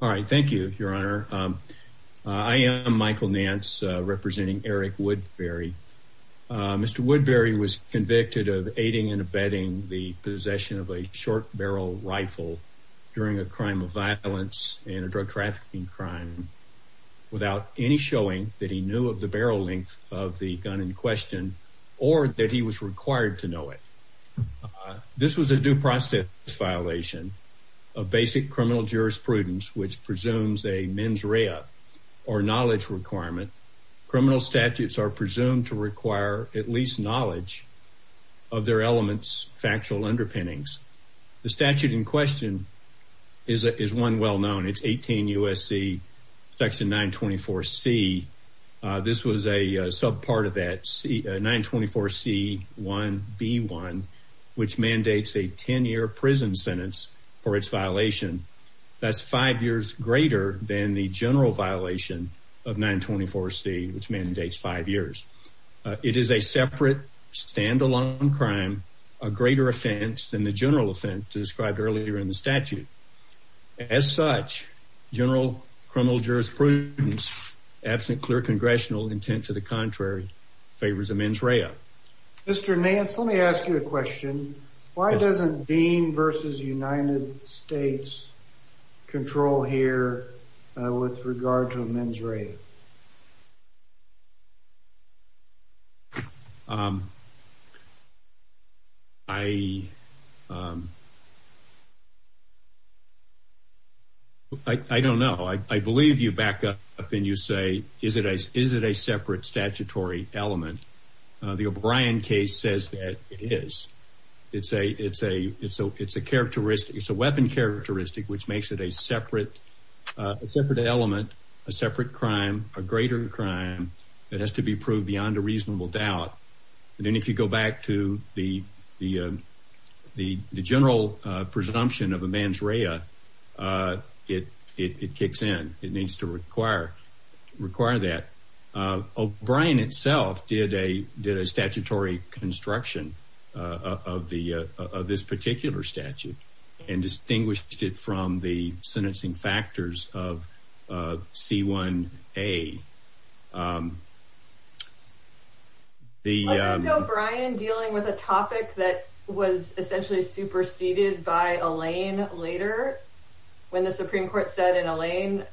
All right. Thank you, Your Honor. I am Michael Nance representing Eric Woodberry. Mr. Woodberry was convicted of aiding and abetting the possession of a short barrel rifle during a crime of violence and a drug trafficking crime without any showing that he knew of the barrel length of the gun in question or that he was required to know it. This was a due process violation of basic criminal jurisprudence, which presumes a mens rea or knowledge requirement. Criminal statutes are presumed to require at least knowledge of their elements, factual underpinnings. The statute in question is one well known. It's 18 U.S.C. section 924 C. This was a sub 924 C 1 B 1, which mandates a 10 year prison sentence for its violation. That's five years greater than the general violation of 924 C, which mandates five years. It is a separate standalone crime, a greater offense than the general offense described earlier in the statute. As such, general criminal jurisprudence absent clear congressional intent to the contrary favors a mens rea. Mr. Nance, let me ask you a question. Why doesn't Dean versus United States control here with regard to a mens rea? Um, I, um, I don't know. I believe you back up and you say, Is it a Is it a separate statutory element? The O'Brien case says that it is. It's a It's a It's a It's a characteristic. It's a weapon characteristic, which makes it a separate separate element, a separate crime, a greater crime that has to be proved beyond a reasonable doubt. And then if you go back to the the the general presumption of a mens rea, uh, it it kicks in. It needs to require require that O'Brien itself did a did a statutory construction of the of this particular statute and distinguished it from the sentencing factors of C 1 A. Um, the O'Brien dealing with a topic that was essentially superseded by a lane later when the Supreme Court said in a lane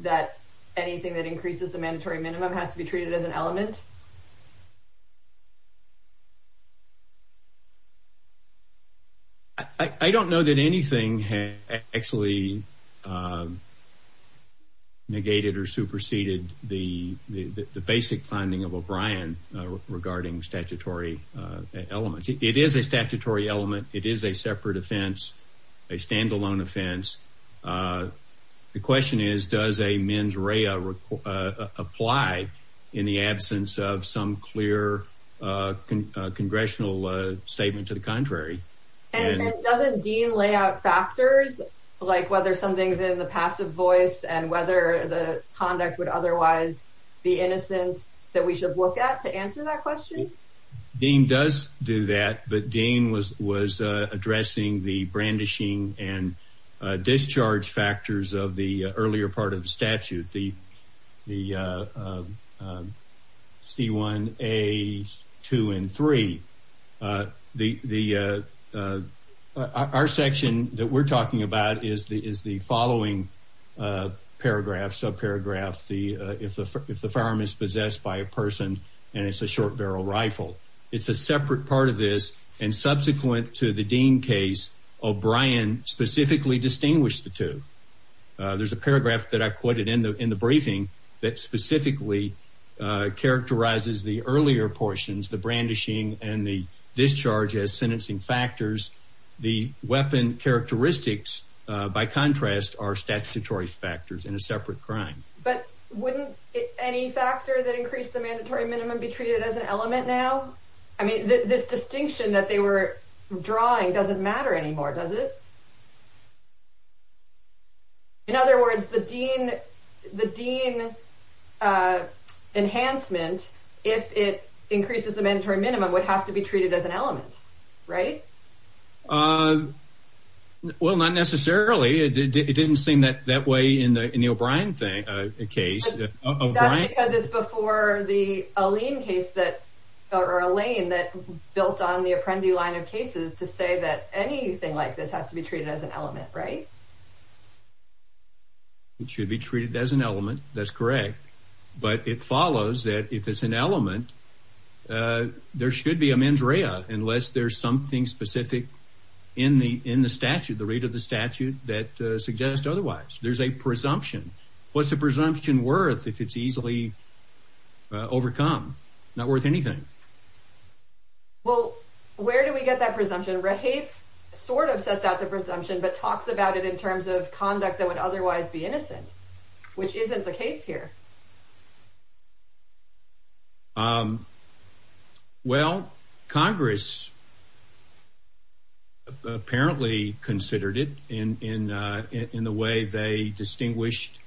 that anything that increases the mandatory minimum has to be treated as an element. I don't know that anything actually, um, negated or superseded the basic finding of O'Brien regarding statutory elements. It is a statutory element. It is a separate offense, a standalone offense. Uh, the question is, does a mens rea, uh, apply in the absence of some clear congressional statement to the contrary? And doesn't Dean lay out factors like whether something's in the passive voice and whether the conduct would otherwise be innocent that we should look at to answer that question? Dean does do that. But Dean was was addressing the brandishing and discharge factors of the earlier part of the statute. The the, uh, our section that we're talking about is the is the following, uh, paragraph, subparagraph. The if the if the farm is possessed by a person and it's a short barrel rifle, it's a separate part of this. And subsequent to the Dean case, O'Brien specifically distinguished the two. There's a paragraph that I quoted in the in the briefing that specifically characterizes the earlier portions, the brandishing and the discharge as sentencing factors. The weapon characteristics, by contrast, are statutory factors in a separate crime. But wouldn't any factor that increased the mandatory minimum be treated as an element now? I mean, this distinction that they were drawing doesn't matter anymore, does it? In other words, the Dean, the Dean, uh, enhancement, if it increases the mandatory minimum, would have to be treated as an element, right? Uh, well, not necessarily. It didn't seem that that way in the O'Brien thing, a case of Right. Because it's before the Alene case that or Elaine that built on the Apprendi line of cases to say that anything like this has to be treated as an element, right? It should be treated as an element. That's correct. But it follows that if it's an element, uh, there should be a mens rea unless there's something specific in the in the statute, the rate of the statute that suggests otherwise, there's a presumption. What's the presumption worth if it's easily overcome? Not worth anything. Well, where do we get that presumption? Red Have sort of sets out the presumption, but talks about it in terms of conduct that would otherwise be innocent, which isn't the case here. Um, well, Congress apparently considered it in in, uh, in the way they distinguished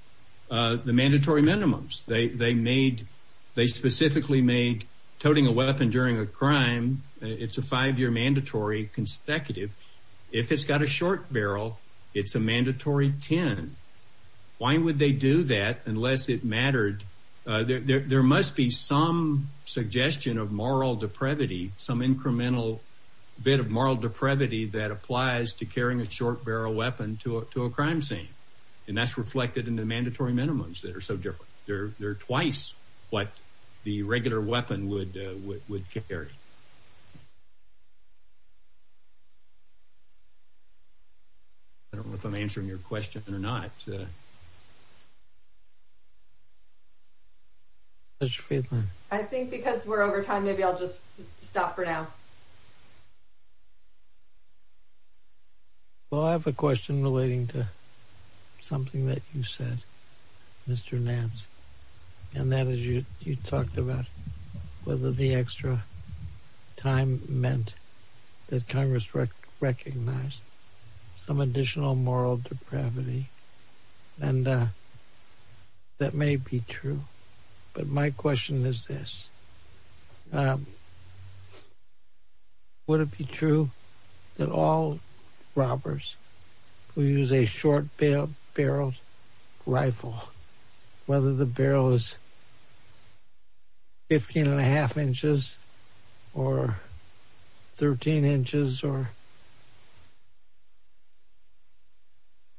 the mandatory minimums. They made they specifically made toting a weapon during a crime. It's a five year mandatory consecutive. If it's got a short barrel, it's a mandatory 10. Why would they do that unless it mattered? There must be some suggestion of moral depravity, some incremental bit of moral depravity that applies to carrying a short barrel weapon to a crime scene. And that's reflected in the mandatory minimums that are so different. They're twice what the regular weapon would would carry. I don't know if I'm answering your question or not. I think because we're over time, maybe I'll just stop for now. Well, I have a question relating to something that you said, Mr. Nance, and that is, you talked about whether the extra time meant that Congress recognized some additional moral depravity, and, uh, that may be true. But my question is this, um, would it be true that all robbers who use a short barrel rifle, whether the barrel is 15 and a half inches or 13 inches or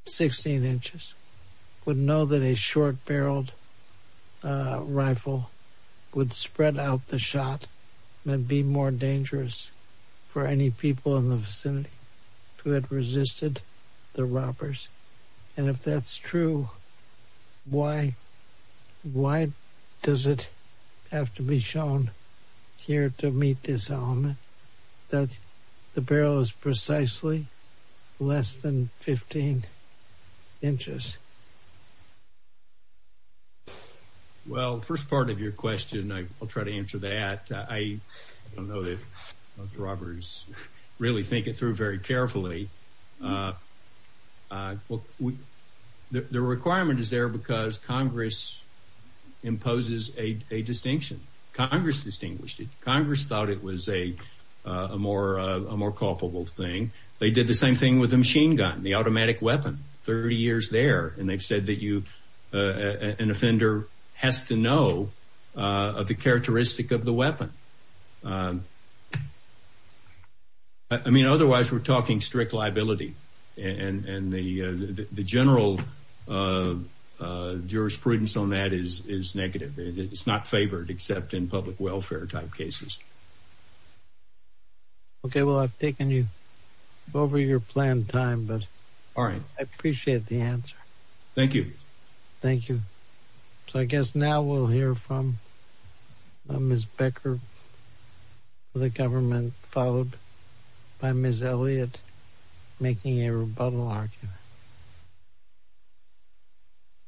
16 inches, would know that a short barreled rifle would spread out the shot and be more dangerous? For any people in the vicinity who had resisted the robbers. And if that's true, why, why does it have to be shown here to meet this element that the barrel is precisely less than 15 inches? Well, first part of your question, I'll try to answer that. I don't know that robbers really think it through very carefully. The requirement is there because Congress imposes a distinction. Congress distinguished it. Congress thought it was a more, a more culpable thing. They did the same thing with the machine gun, the automatic weapon, 30 years there. And they've said that you, uh, an offender has to know, uh, the characteristic of the weapon. Um, I mean, otherwise we're talking strict liability and, and the, uh, the general, uh, uh, jurisprudence on that is, is negative. It's not favored except in public welfare type cases. Okay, well, I've taken you over your planned time, but all right. I appreciate the answer. Thank you. Thank you. So I guess now we'll hear from, uh, Ms. Becker, the government followed by Ms. Elliott making a rebuttal argument.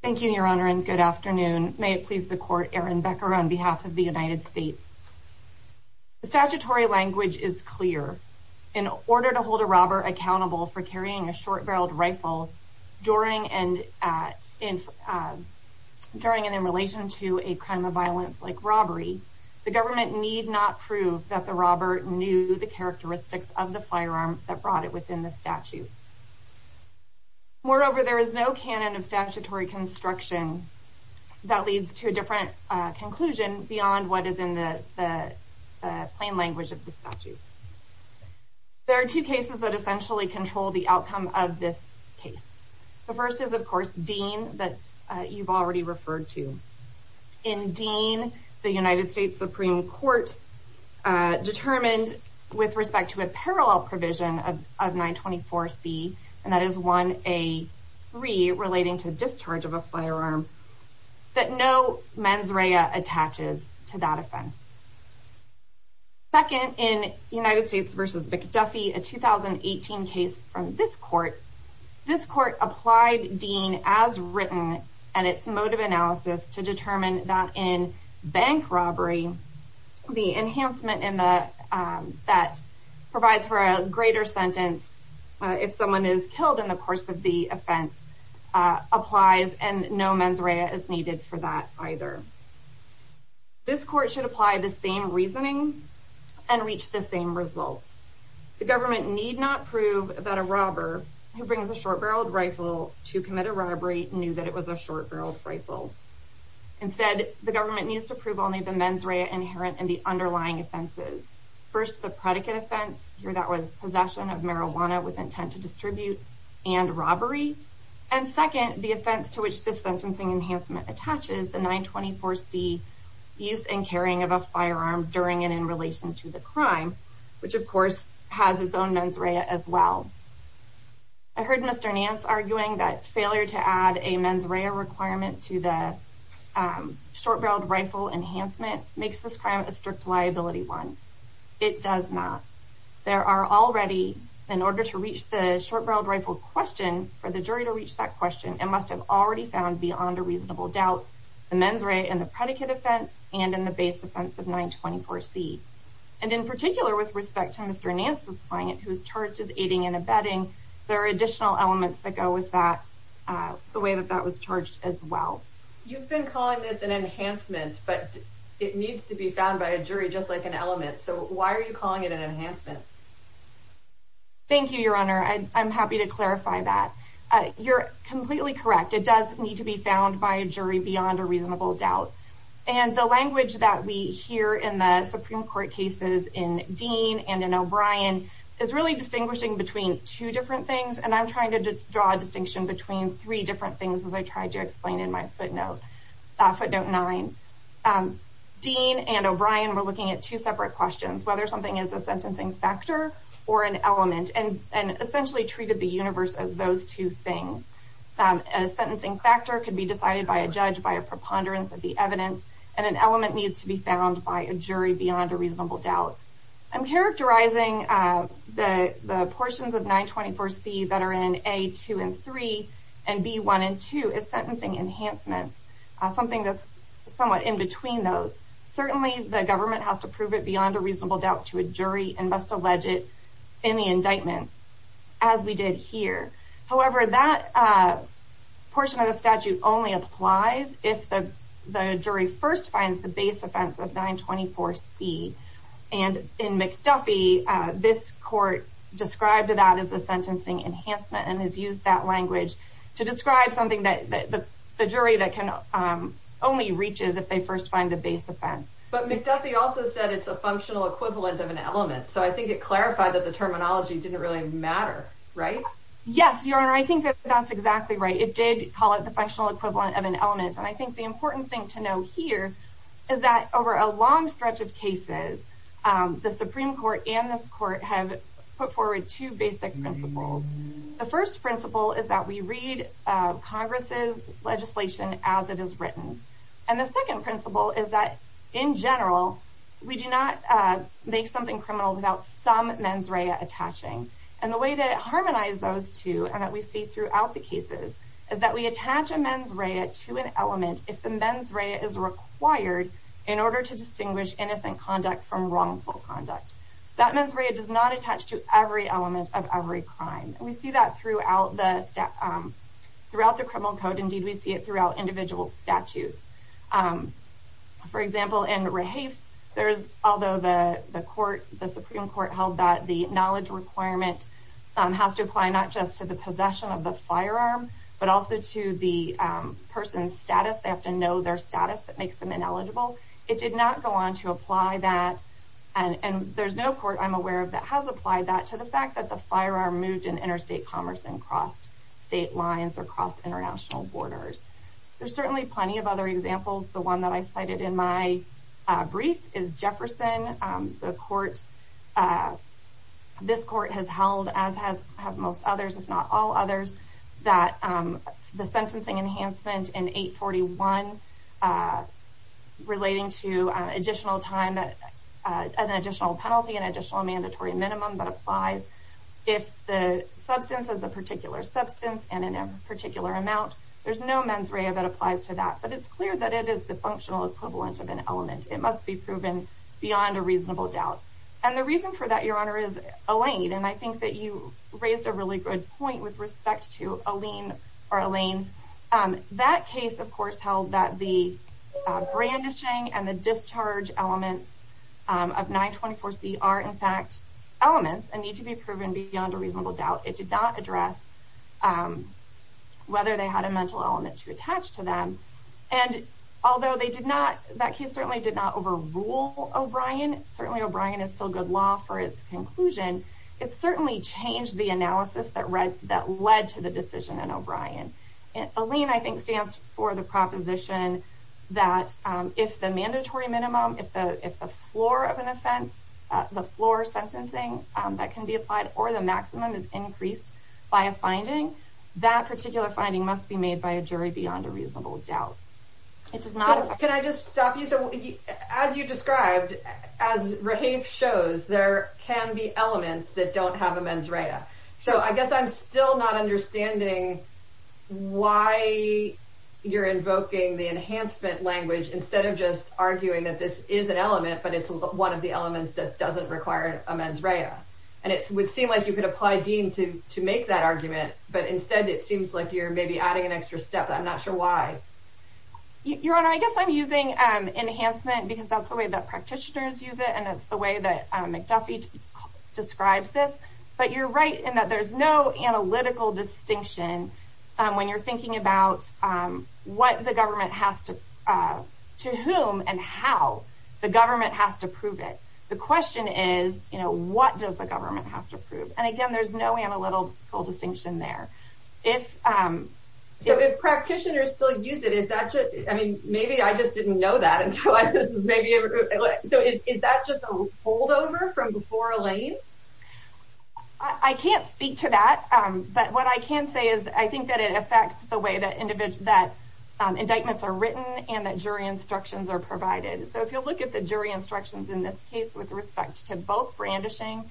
Thank you, your honor. And good afternoon. May it please the court, Aaron Becker on behalf of the United States. Statutory language is clear. In order to hold a robber accountable for carrying a short barreled rifle during and, uh, in, uh, during and in relation to a crime of violence, like robbery, the government need not prove that the robber knew the characteristics of the firearm that brought it within the statute. Moreover, there is no canon of statutory construction that leads to a different conclusion beyond what is in the, the plain language of the statute. There are two cases that essentially control the outcome of this case. The first is of course, Dean that you've already referred to in Dean, the United States Supreme court, uh, determined with respect to a parallel provision of 924 C. And that is one, a three relating to discharge of a firearm that no mens rea attaches to that offense. Second in United States versus McDuffie, a 2018 case from this court, this court applied Dean as written and its motive analysis to determine that in bank robbery, the enhancement in the, um, that provides for a greater sentence. Uh, if someone is killed in the course of the offense, uh, applies and no mens rea is needed for that either, this court should apply the same reasoning and reach the same results. The government need not prove that a robber who brings a short barreled rifle to commit a robbery knew that it was a short barrel rifle. Instead, the government needs to prove only the mens rea inherent in the underlying offenses. First, the predicate offense here, that was possession of marijuana with intent to distribute and robbery. And second, the offense to which this sentencing enhancement attaches the 924 C use and carrying of a firearm during and in relation to the crime, which of course has its own mens rea as well. I heard Mr. Nance arguing that failure to add a mens rea requirement to the, um, short barreled rifle enhancement makes this crime a strict liability one. It does not. There are already in order to reach the short barreled rifle question for the jury to reach that question and must have already found beyond a reasonable doubt the mens rea and the predicate offense and in the base offense of 924 C. And in particular, with respect to Mr. Nance's client, who is charged as aiding and abetting, there are additional elements that go with that, uh, the way that that was charged as well. You've been calling this an enhancement, but it needs to be found by a jury, just like an element. So why are you calling it an enhancement? Thank you, Your Honor. I'm happy to clarify that you're completely correct. It does need to be found by a jury beyond a reasonable doubt. And the language that we hear in the Supreme Court cases in Dean and in O'Brien is really distinguishing between two different things. And I'm trying to draw a distinction between three different things as I tried to explain in my footnote. Footnote 9. Dean and O'Brien were looking at two separate questions, whether something is a sentencing factor or an element, and essentially treated the universe as those two things. A sentencing factor could be decided by a judge by a preponderance of the evidence, and an element needs to be found by a jury beyond a reasonable doubt. I'm characterizing the portions of 924C that are in A, 2, and 3, and B, 1, and 2 as sentencing enhancements, something that's somewhat in between those. Certainly the government has to prove it beyond a reasonable doubt to a jury and must allege it in the indictment, as we did here. However, that portion of the statute only applies if the jury first finds the base offense of 924C. And in McDuffie, this court described that as a sentencing enhancement and has used that language to describe something that the jury only reaches if they first find the base offense. But McDuffie also said it's a functional equivalent of an element, so I think it clarified that the terminology didn't really matter, right? Yes, Your Honor, I think that's exactly right. It did call it the functional equivalent of an element, and I think the important thing to know here is that over a long stretch of cases, the Supreme Court and this court have put forward two basic principles. The first principle is that we read Congress's legislation as it is written. And the second principle is that, in general, we do not make something criminal without some mens rea attaching. And the way to harmonize those two, and that we see throughout the cases, is that we attach a mens rea to an element if the mens rea is required in order to distinguish innocent conduct from wrongful conduct. That mens rea does not attach to every element of every crime. We see that throughout the criminal code. Indeed, we see it throughout individual statutes. For example, in Rahafe, although the Supreme Court held that the knowledge requirement has to apply not just to the possession of the firearm, but also to the person's status. They have to know their status that makes them ineligible. It did not go on to apply that, and there's no court I'm aware of that has applied that to the fact that the firearm moved in interstate commerce and crossed state lines or crossed international borders. There's certainly plenty of other examples. The one that I cited in my brief is Jefferson. This court has held, as have most others, if not all others, that the sentencing enhancement in 841 relating to an additional penalty, an additional mandatory minimum that applies if the substance is a particular substance and in a particular amount. There's no mens rea that applies to that, but it's clear that it is the functional equivalent of an element. It must be proven beyond a reasonable doubt. The reason for that, Your Honor, is Elaine. I think that you raised a really good point with respect to Elaine. That case, of course, held that the brandishing and the discharge elements of 924C are, in fact, elements and need to be proven beyond a reasonable doubt. It did not address whether they had a mental element to attach to them, and although that case certainly did not overrule O'Brien, certainly O'Brien is still good law for its conclusion, it certainly changed the analysis that led to the decision in O'Brien. Elaine, I think, stands for the proposition that if the mandatory minimum, if the floor of an offense, the floor sentencing that can be applied or the maximum is increased by a finding, that particular finding must be made by a jury beyond a reasonable doubt. Can I just stop you? As you described, as Raheif shows, there can be elements that don't have a mens rea. So I guess I'm still not understanding why you're invoking the enhancement language instead of just arguing that this is an element, but it's one of the elements that doesn't require a mens rea. And it would seem like you could apply deem to make that argument, but instead it seems like you're maybe adding an extra step. I'm not sure why. Your Honor, I guess I'm using enhancement because that's the way that practitioners use it, and it's the way that McDuffie describes this. But you're right in that there's no analytical distinction when you're thinking about what the government has to, to whom and how the government has to prove it. The question is, you know, what does the government have to prove? And again, there's no analytical distinction there. So if practitioners still use it, is that just, I mean, maybe I just didn't know that. So is that just a holdover from before Elaine? I can't speak to that. But what I can say is I think that it affects the way that individual, that indictments are written and that jury instructions are provided. So if you'll look at the jury instructions in this case with respect to both brandishing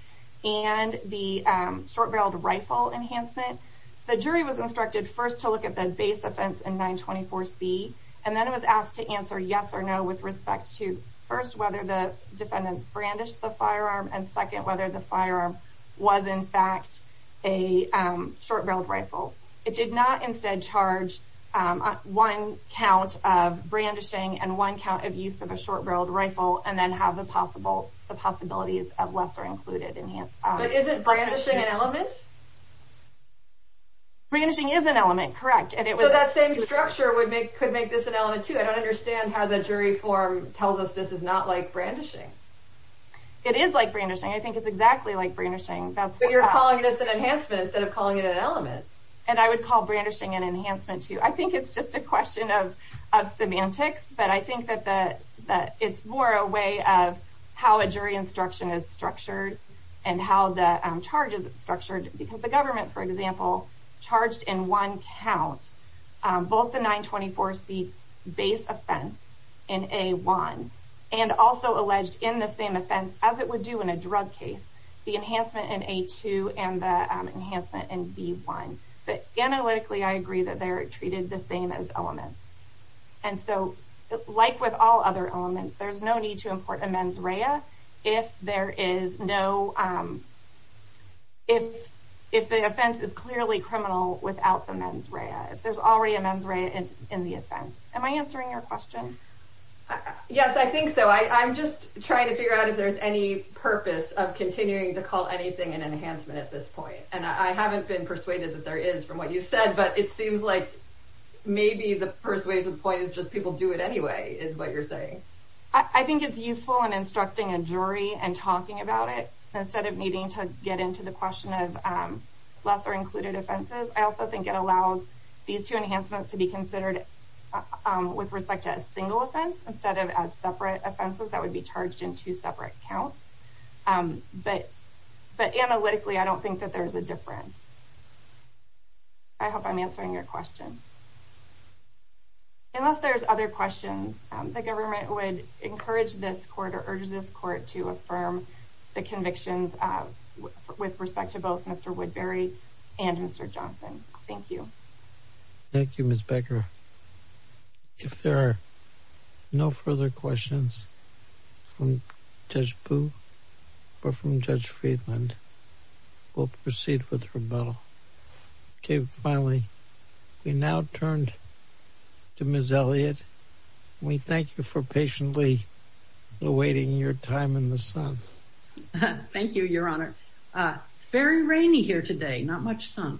and the short-barreled rifle enhancement, the jury was instructed first to look at the base offense in 924C. And then it was asked to answer yes or no with respect to, first, whether the defendants brandished the firearm, and second, whether the firearm was, in fact, a short-barreled rifle. It did not instead charge one count of brandishing and one count of use of a short-barreled rifle and then have the possibilities of lesser included enhancement. But isn't brandishing an element? Brandishing is an element, correct. So that same structure could make this an element, too. I don't understand how the jury form tells us this is not like brandishing. It is like brandishing. I think it's exactly like brandishing. But you're calling this an enhancement instead of calling it an element. And I would call brandishing an enhancement, too. I think it's just a question of semantics, but I think that it's more a way of how a jury instruction is structured and how the charges are structured. Because the government, for example, charged in one count both the 924C base offense in A1 and also alleged in the same offense, as it would do in a drug case, the enhancement in A2 and the enhancement in B1. But analytically, I agree that they're treated the same as elements. And so, like with all other elements, there's no need to import a mens rea if the offense is clearly criminal without the mens rea, if there's already a mens rea in the offense. Am I answering your question? Yes, I think so. I'm just trying to figure out if there's any purpose of continuing to call anything an enhancement at this point. And I haven't been persuaded that there is, from what you said, but it seems like maybe the persuasive point is just people do it anyway, is what you're saying. I think it's useful in instructing a jury and talking about it, instead of needing to get into the question of lesser included offenses. I also think it allows these two enhancements to be considered with respect to a single offense, instead of as separate offenses that would be charged in two separate counts. But analytically, I don't think that there's a difference. I hope I'm answering your question. Unless there's other questions, the government would encourage this court or urge this court to affirm the convictions with respect to both Mr. Woodbury and Mr. Johnson. Thank you. Thank you, Ms. Becker. If there are no further questions from Judge Boo or from Judge Friedland, we'll proceed with rebuttal. Finally, we now turn to Ms. Elliott. We thank you for patiently awaiting your time in the sun. Thank you, Your Honor. It's very rainy here today, not much sun.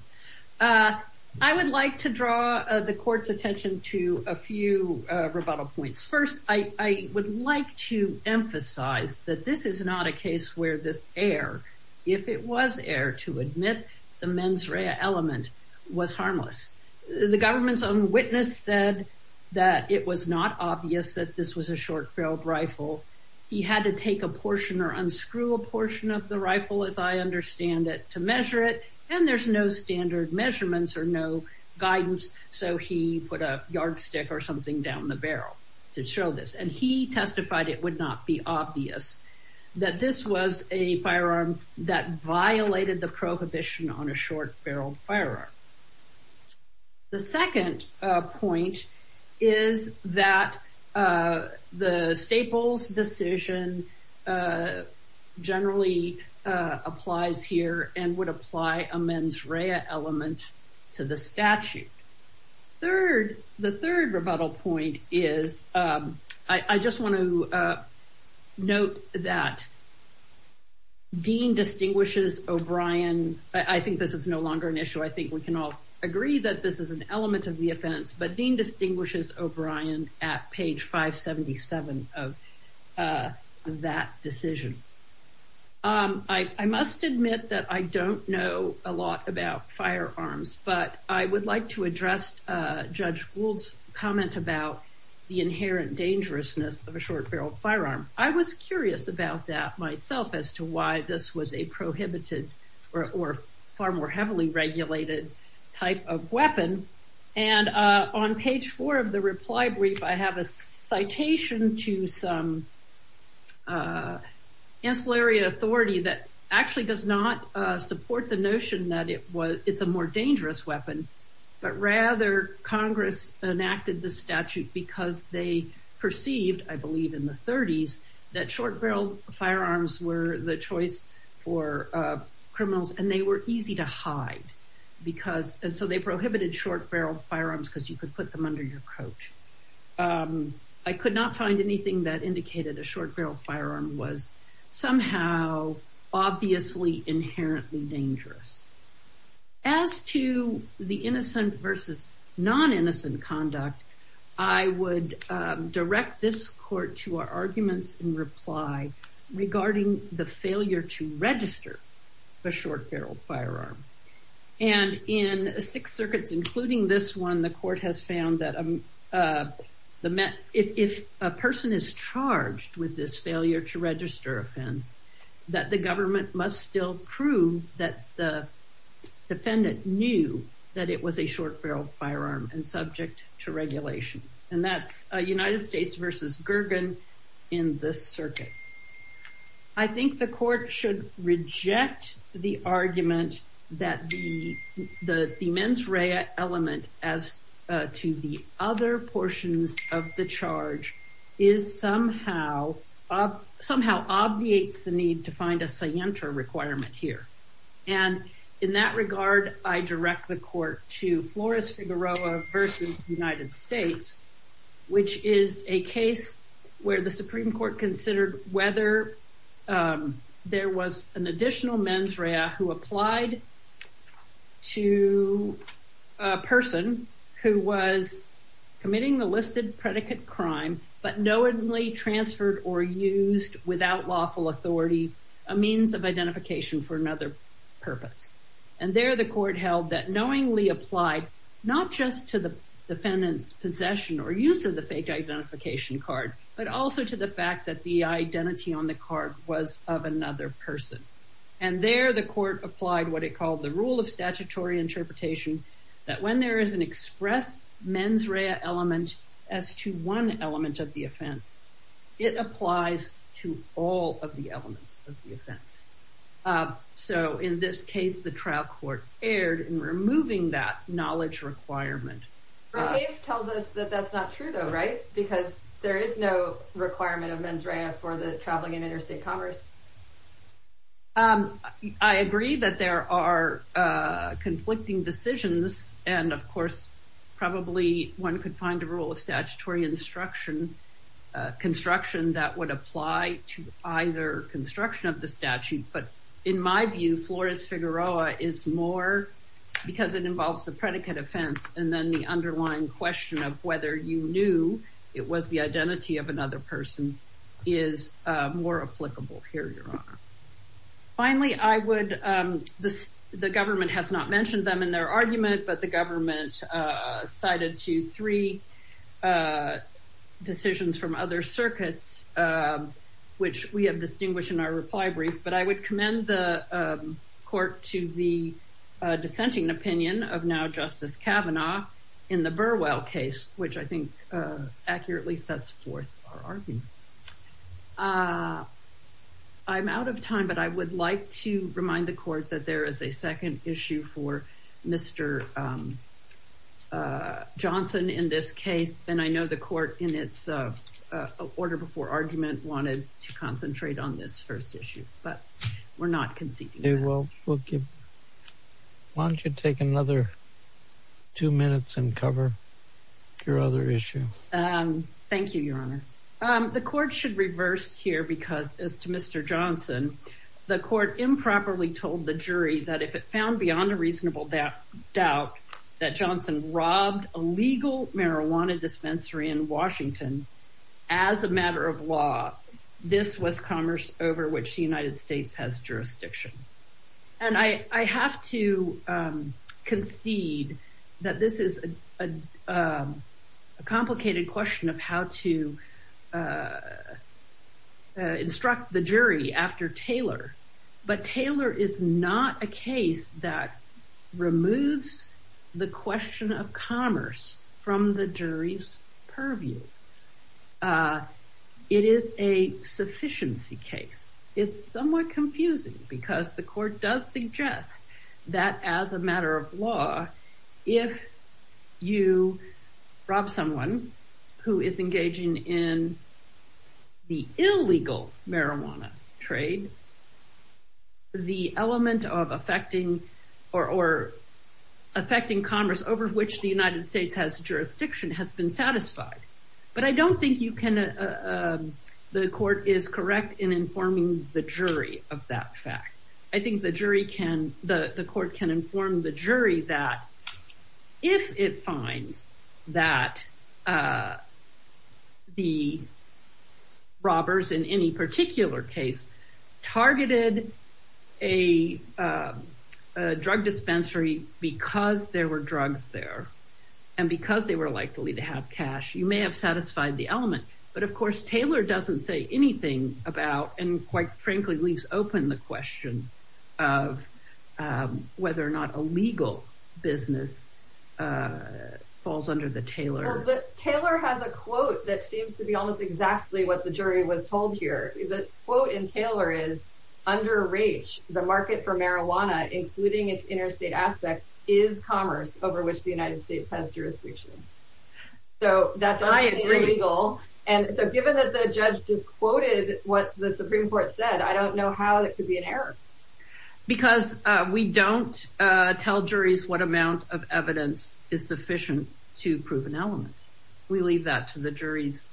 I would like to draw the court's attention to a few rebuttal points. First, I would like to emphasize that this is not a case where this error, if it was error, to admit the mens rea element was harmless. The government's own witness said that it was not obvious that this was a short-barreled rifle. He had to take a portion or unscrew a portion of the rifle, as I understand it, to measure it. And there's no standard measurements or no guidance, so he put a yardstick or something down the barrel to show this. And he testified it would not be obvious that this was a firearm that violated the prohibition on a short-barreled firearm. The second point is that the Staples decision generally applies here and would apply a mens rea element to the statute. The third rebuttal point is I just want to note that Dean distinguishes O'Brien. I think this is no longer an issue. I think we can all agree that this is an element of the offense, but Dean distinguishes O'Brien at page 577 of that decision. I must admit that I don't know a lot about firearms, but I would like to address Judge Gould's comment about the inherent dangerousness of a short-barreled firearm. I was curious about that myself as to why this was a prohibited or far more heavily regulated type of weapon. And on page 4 of the reply brief, I have a citation to some ancillary authority that actually does not support the notion that it's a more dangerous weapon, but rather Congress enacted the statute because they perceived, I believe in the 30s, that short-barreled firearms were the choice for criminals, and they were easy to hide, and so they prohibited short-barreled firearms because you could put them under your coat. I could not find anything that indicated a short-barreled firearm was somehow obviously inherently dangerous. As to the innocent versus non-innocent conduct, I would direct this court to our arguments in reply regarding the failure to register a short-barreled firearm. And in six circuits, including this one, the court has found that if a person is charged with this failure to register offense, that the government must still prove that the defendant knew that it was a short-barreled firearm and subject to regulation. And that's United States versus Gergen in this circuit. I think the court should reject the argument that the mens rea element as to the other portions of the charge somehow obviates the need to find a scienter requirement here. And in that regard, I direct the court to Flores-Figueroa versus United States, which is a case where the Supreme Court considered whether there was an additional mens rea who applied to a person who was committing the listed predicate crime, but knowingly transferred or used without lawful authority a means of identification for another purpose. And there the court held that knowingly applied not just to the defendant's possession or use of the fake identification card, but also to the fact that the identity on the card was of another person. And there the court applied what it called the rule of statutory interpretation, that when there is an express mens rea element as to one element of the offense, it applies to all of the elements of the offense. So in this case, the trial court erred in removing that knowledge requirement. But it tells us that that's not true, though, right? Because there is no requirement of mens rea for the traveling and interstate commerce. I agree that there are conflicting decisions. And, of course, probably one could find a rule of statutory construction that would apply to either construction of the statute. But in my view, Flores-Figueroa is more because it involves the predicate offense. And then the underlying question of whether you knew it was the identity of another person is more applicable here, Your Honor. Finally, the government has not mentioned them in their argument, but the government cited two, three decisions from other circuits, which we have distinguished in our reply brief. But I would commend the court to the dissenting opinion of now Justice Kavanaugh in the Burwell case, which I think accurately sets forth our arguments. I'm out of time, but I would like to remind the court that there is a second issue for Mr. Johnson in this case. And I know the court in its order before argument wanted to concentrate on this first issue, but we're not conceding that. Why don't you take another two minutes and cover your other issue? Thank you, Your Honor. The court should reverse here because, as to Mr. Johnson, the court improperly told the jury that if it found beyond a reasonable doubt that Johnson robbed a legal marijuana dispensary in Washington as a matter of law, this was commerce over which the United States has jurisdiction. And I have to concede that this is a complicated question of how to instruct the jury after Taylor. But Taylor is not a case that removes the question of commerce from the jury's purview. It is a sufficiency case. It's somewhat confusing because the court does suggest that as a matter of law, if you rob someone who is engaging in the illegal marijuana trade, the element of affecting commerce over which the United States has jurisdiction has been satisfied. But I don't think the court is correct in informing the jury of that fact. I think the court can inform the jury that if it finds that the robbers in any particular case targeted a drug dispensary because there were drugs there and because they were likely to have cash, you may have satisfied the element. But, of course, Taylor doesn't say anything about and, quite frankly, leaves open the question of whether or not a legal business falls under the Taylor. Taylor has a quote that seems to be almost exactly what the jury was told here. The quote in Taylor is under rage. The market for marijuana, including its interstate aspects, is commerce over which the United States has jurisdiction. So that's illegal. And so given that the judge just quoted what the Supreme Court said, I don't know how that could be an error. Because we don't tell juries what amount of evidence is sufficient to prove an element. We leave that to the jury's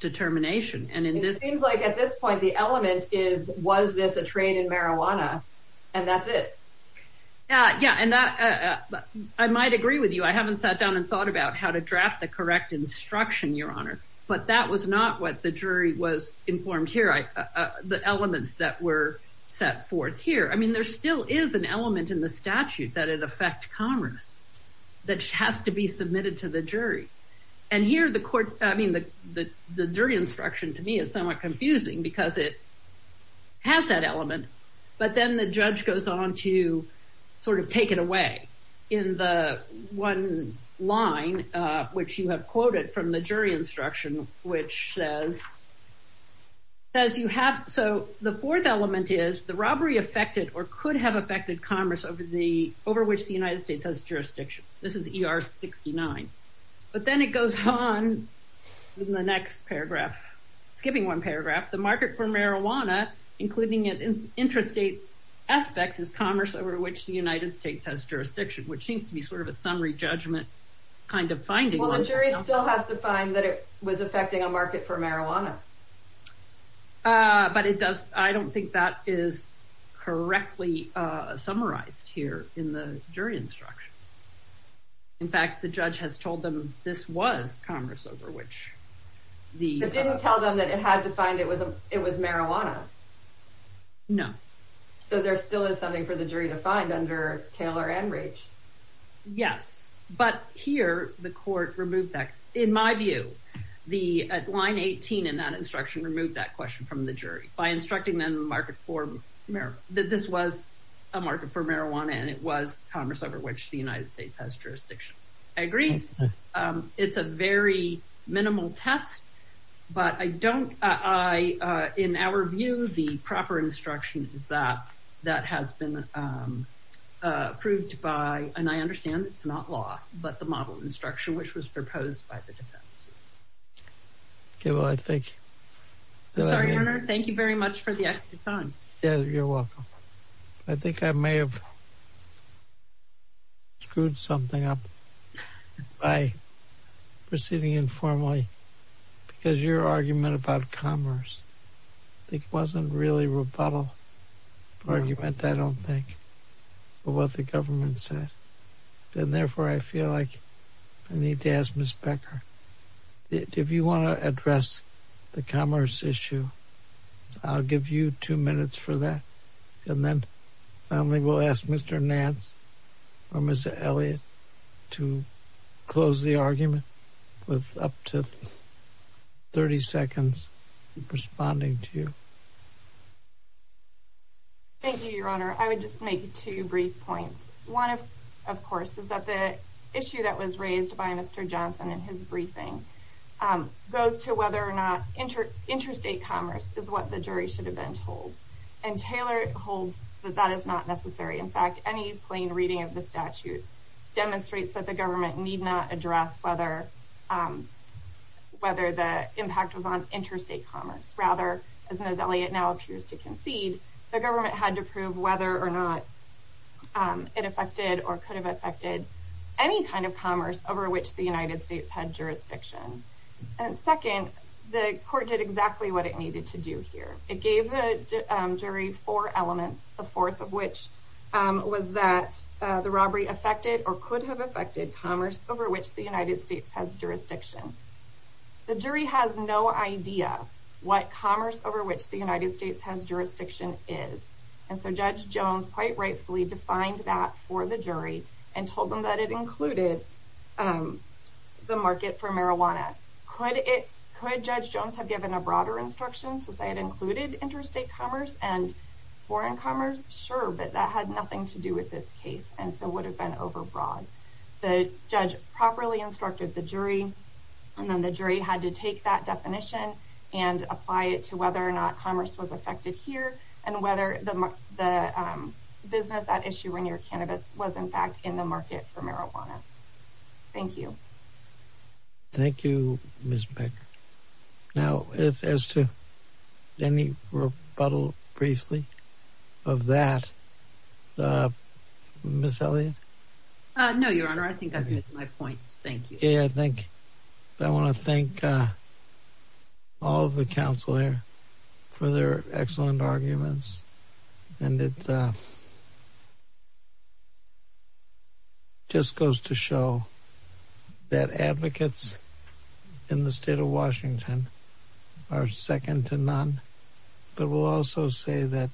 determination. And it seems like at this point the element is, was this a trade in marijuana? And that's it. Yeah, and I might agree with you. I haven't sat down and thought about how to draft the correct instruction, Your Honor. But that was not what the jury was informed here, the elements that were set forth here. I mean, there still is an element in the statute that it affects commerce that has to be submitted to the jury. And here the court, I mean, the jury instruction to me is somewhat confusing because it has that element. But then the judge goes on to sort of take it away in the one line which you have quoted from the jury instruction, which says you have, so the fourth element is the robbery affected or could have affected commerce over which the United States has jurisdiction. This is ER 69. But then it goes on in the next paragraph, skipping one paragraph. The market for marijuana, including interstate aspects, is commerce over which the United States has jurisdiction, which seems to be sort of a summary judgment kind of finding. Well, the jury still has to find that it was affecting a market for marijuana. But it does. I don't think that is correctly summarized here in the jury instructions. In fact, the judge has told them this was commerce over which the didn't tell them that it had to find it was it was marijuana. No. So there still is something for the jury to find under Taylor and Raich. Yes. But here the court removed that. In my view, the line 18 in that instruction removed that question from the jury by instructing them the market for marijuana, that this was a market for marijuana and it was commerce over which the United States has jurisdiction. I agree. It's a very minimal test. But I don't I in our view, the proper instruction is that that has been approved by. And I understand it's not law, but the model instruction which was proposed by the defense. Well, I think. Thank you very much for the time. You're welcome. I think I may have. Screwed something up by proceeding informally because your argument about commerce, it wasn't really rebuttal argument, I don't think, but what the government said. And therefore, I feel like I need to ask Miss Becker, if you want to address the commerce issue, I'll give you two minutes for that. And then we will ask Mr. Nance or Miss Elliott to close the argument with up to 30 seconds responding to you. Thank you, Your Honor. I would just make two brief points. One, of course, is that the issue that was raised by Mr. Johnson in his briefing goes to whether or not interstate commerce is what the jury should have been told. And Taylor holds that that is not necessary. In fact, any plain reading of the statute demonstrates that the government need not address whether the impact was on interstate commerce. Rather, as Miss Elliott now appears to concede, the government had to prove whether or not it affected or could have affected any kind of commerce over which the United States had jurisdiction. And second, the court did exactly what it needed to do here. It gave the jury four elements, the fourth of which was that the robbery affected or could have affected commerce over which the United States has jurisdiction. The jury has no idea what commerce over which the United States has jurisdiction is. And so Judge Jones quite rightfully defined that for the jury and told them that it included the market for marijuana. Could Judge Jones have given a broader instruction since I had included interstate commerce and foreign commerce? Sure. But that had nothing to do with this case and so would have been overbroad. The judge properly instructed the jury and then the jury had to take that definition and apply it to whether or not commerce was affected here and whether the business at issue when your cannabis was, in fact, in the market for marijuana. Thank you. Thank you, Ms. Becker. Now, as to any rebuttal briefly of that, Ms. Elliott? No, Your Honor. I think I've made my point. Thank you. I think I want to thank all of the counsel here for their excellent arguments. And it just goes to show that advocates in the state of Washington are second to none. But we'll also say that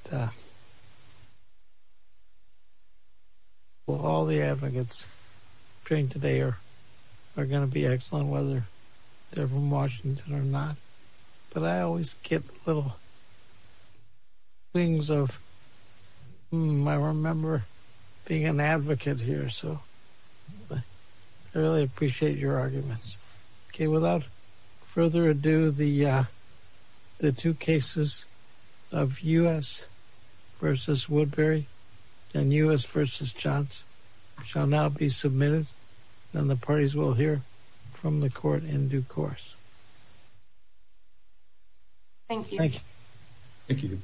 all the advocates during today are going to be excellent, whether they're from Washington or not. But I always get little things of, I remember being an advocate here, so I really appreciate your arguments. Without further ado, the two cases of U.S. v. Woodbury and U.S. v. Johns shall now be submitted and the parties will hear from the court in due course. Thank you. Thank you.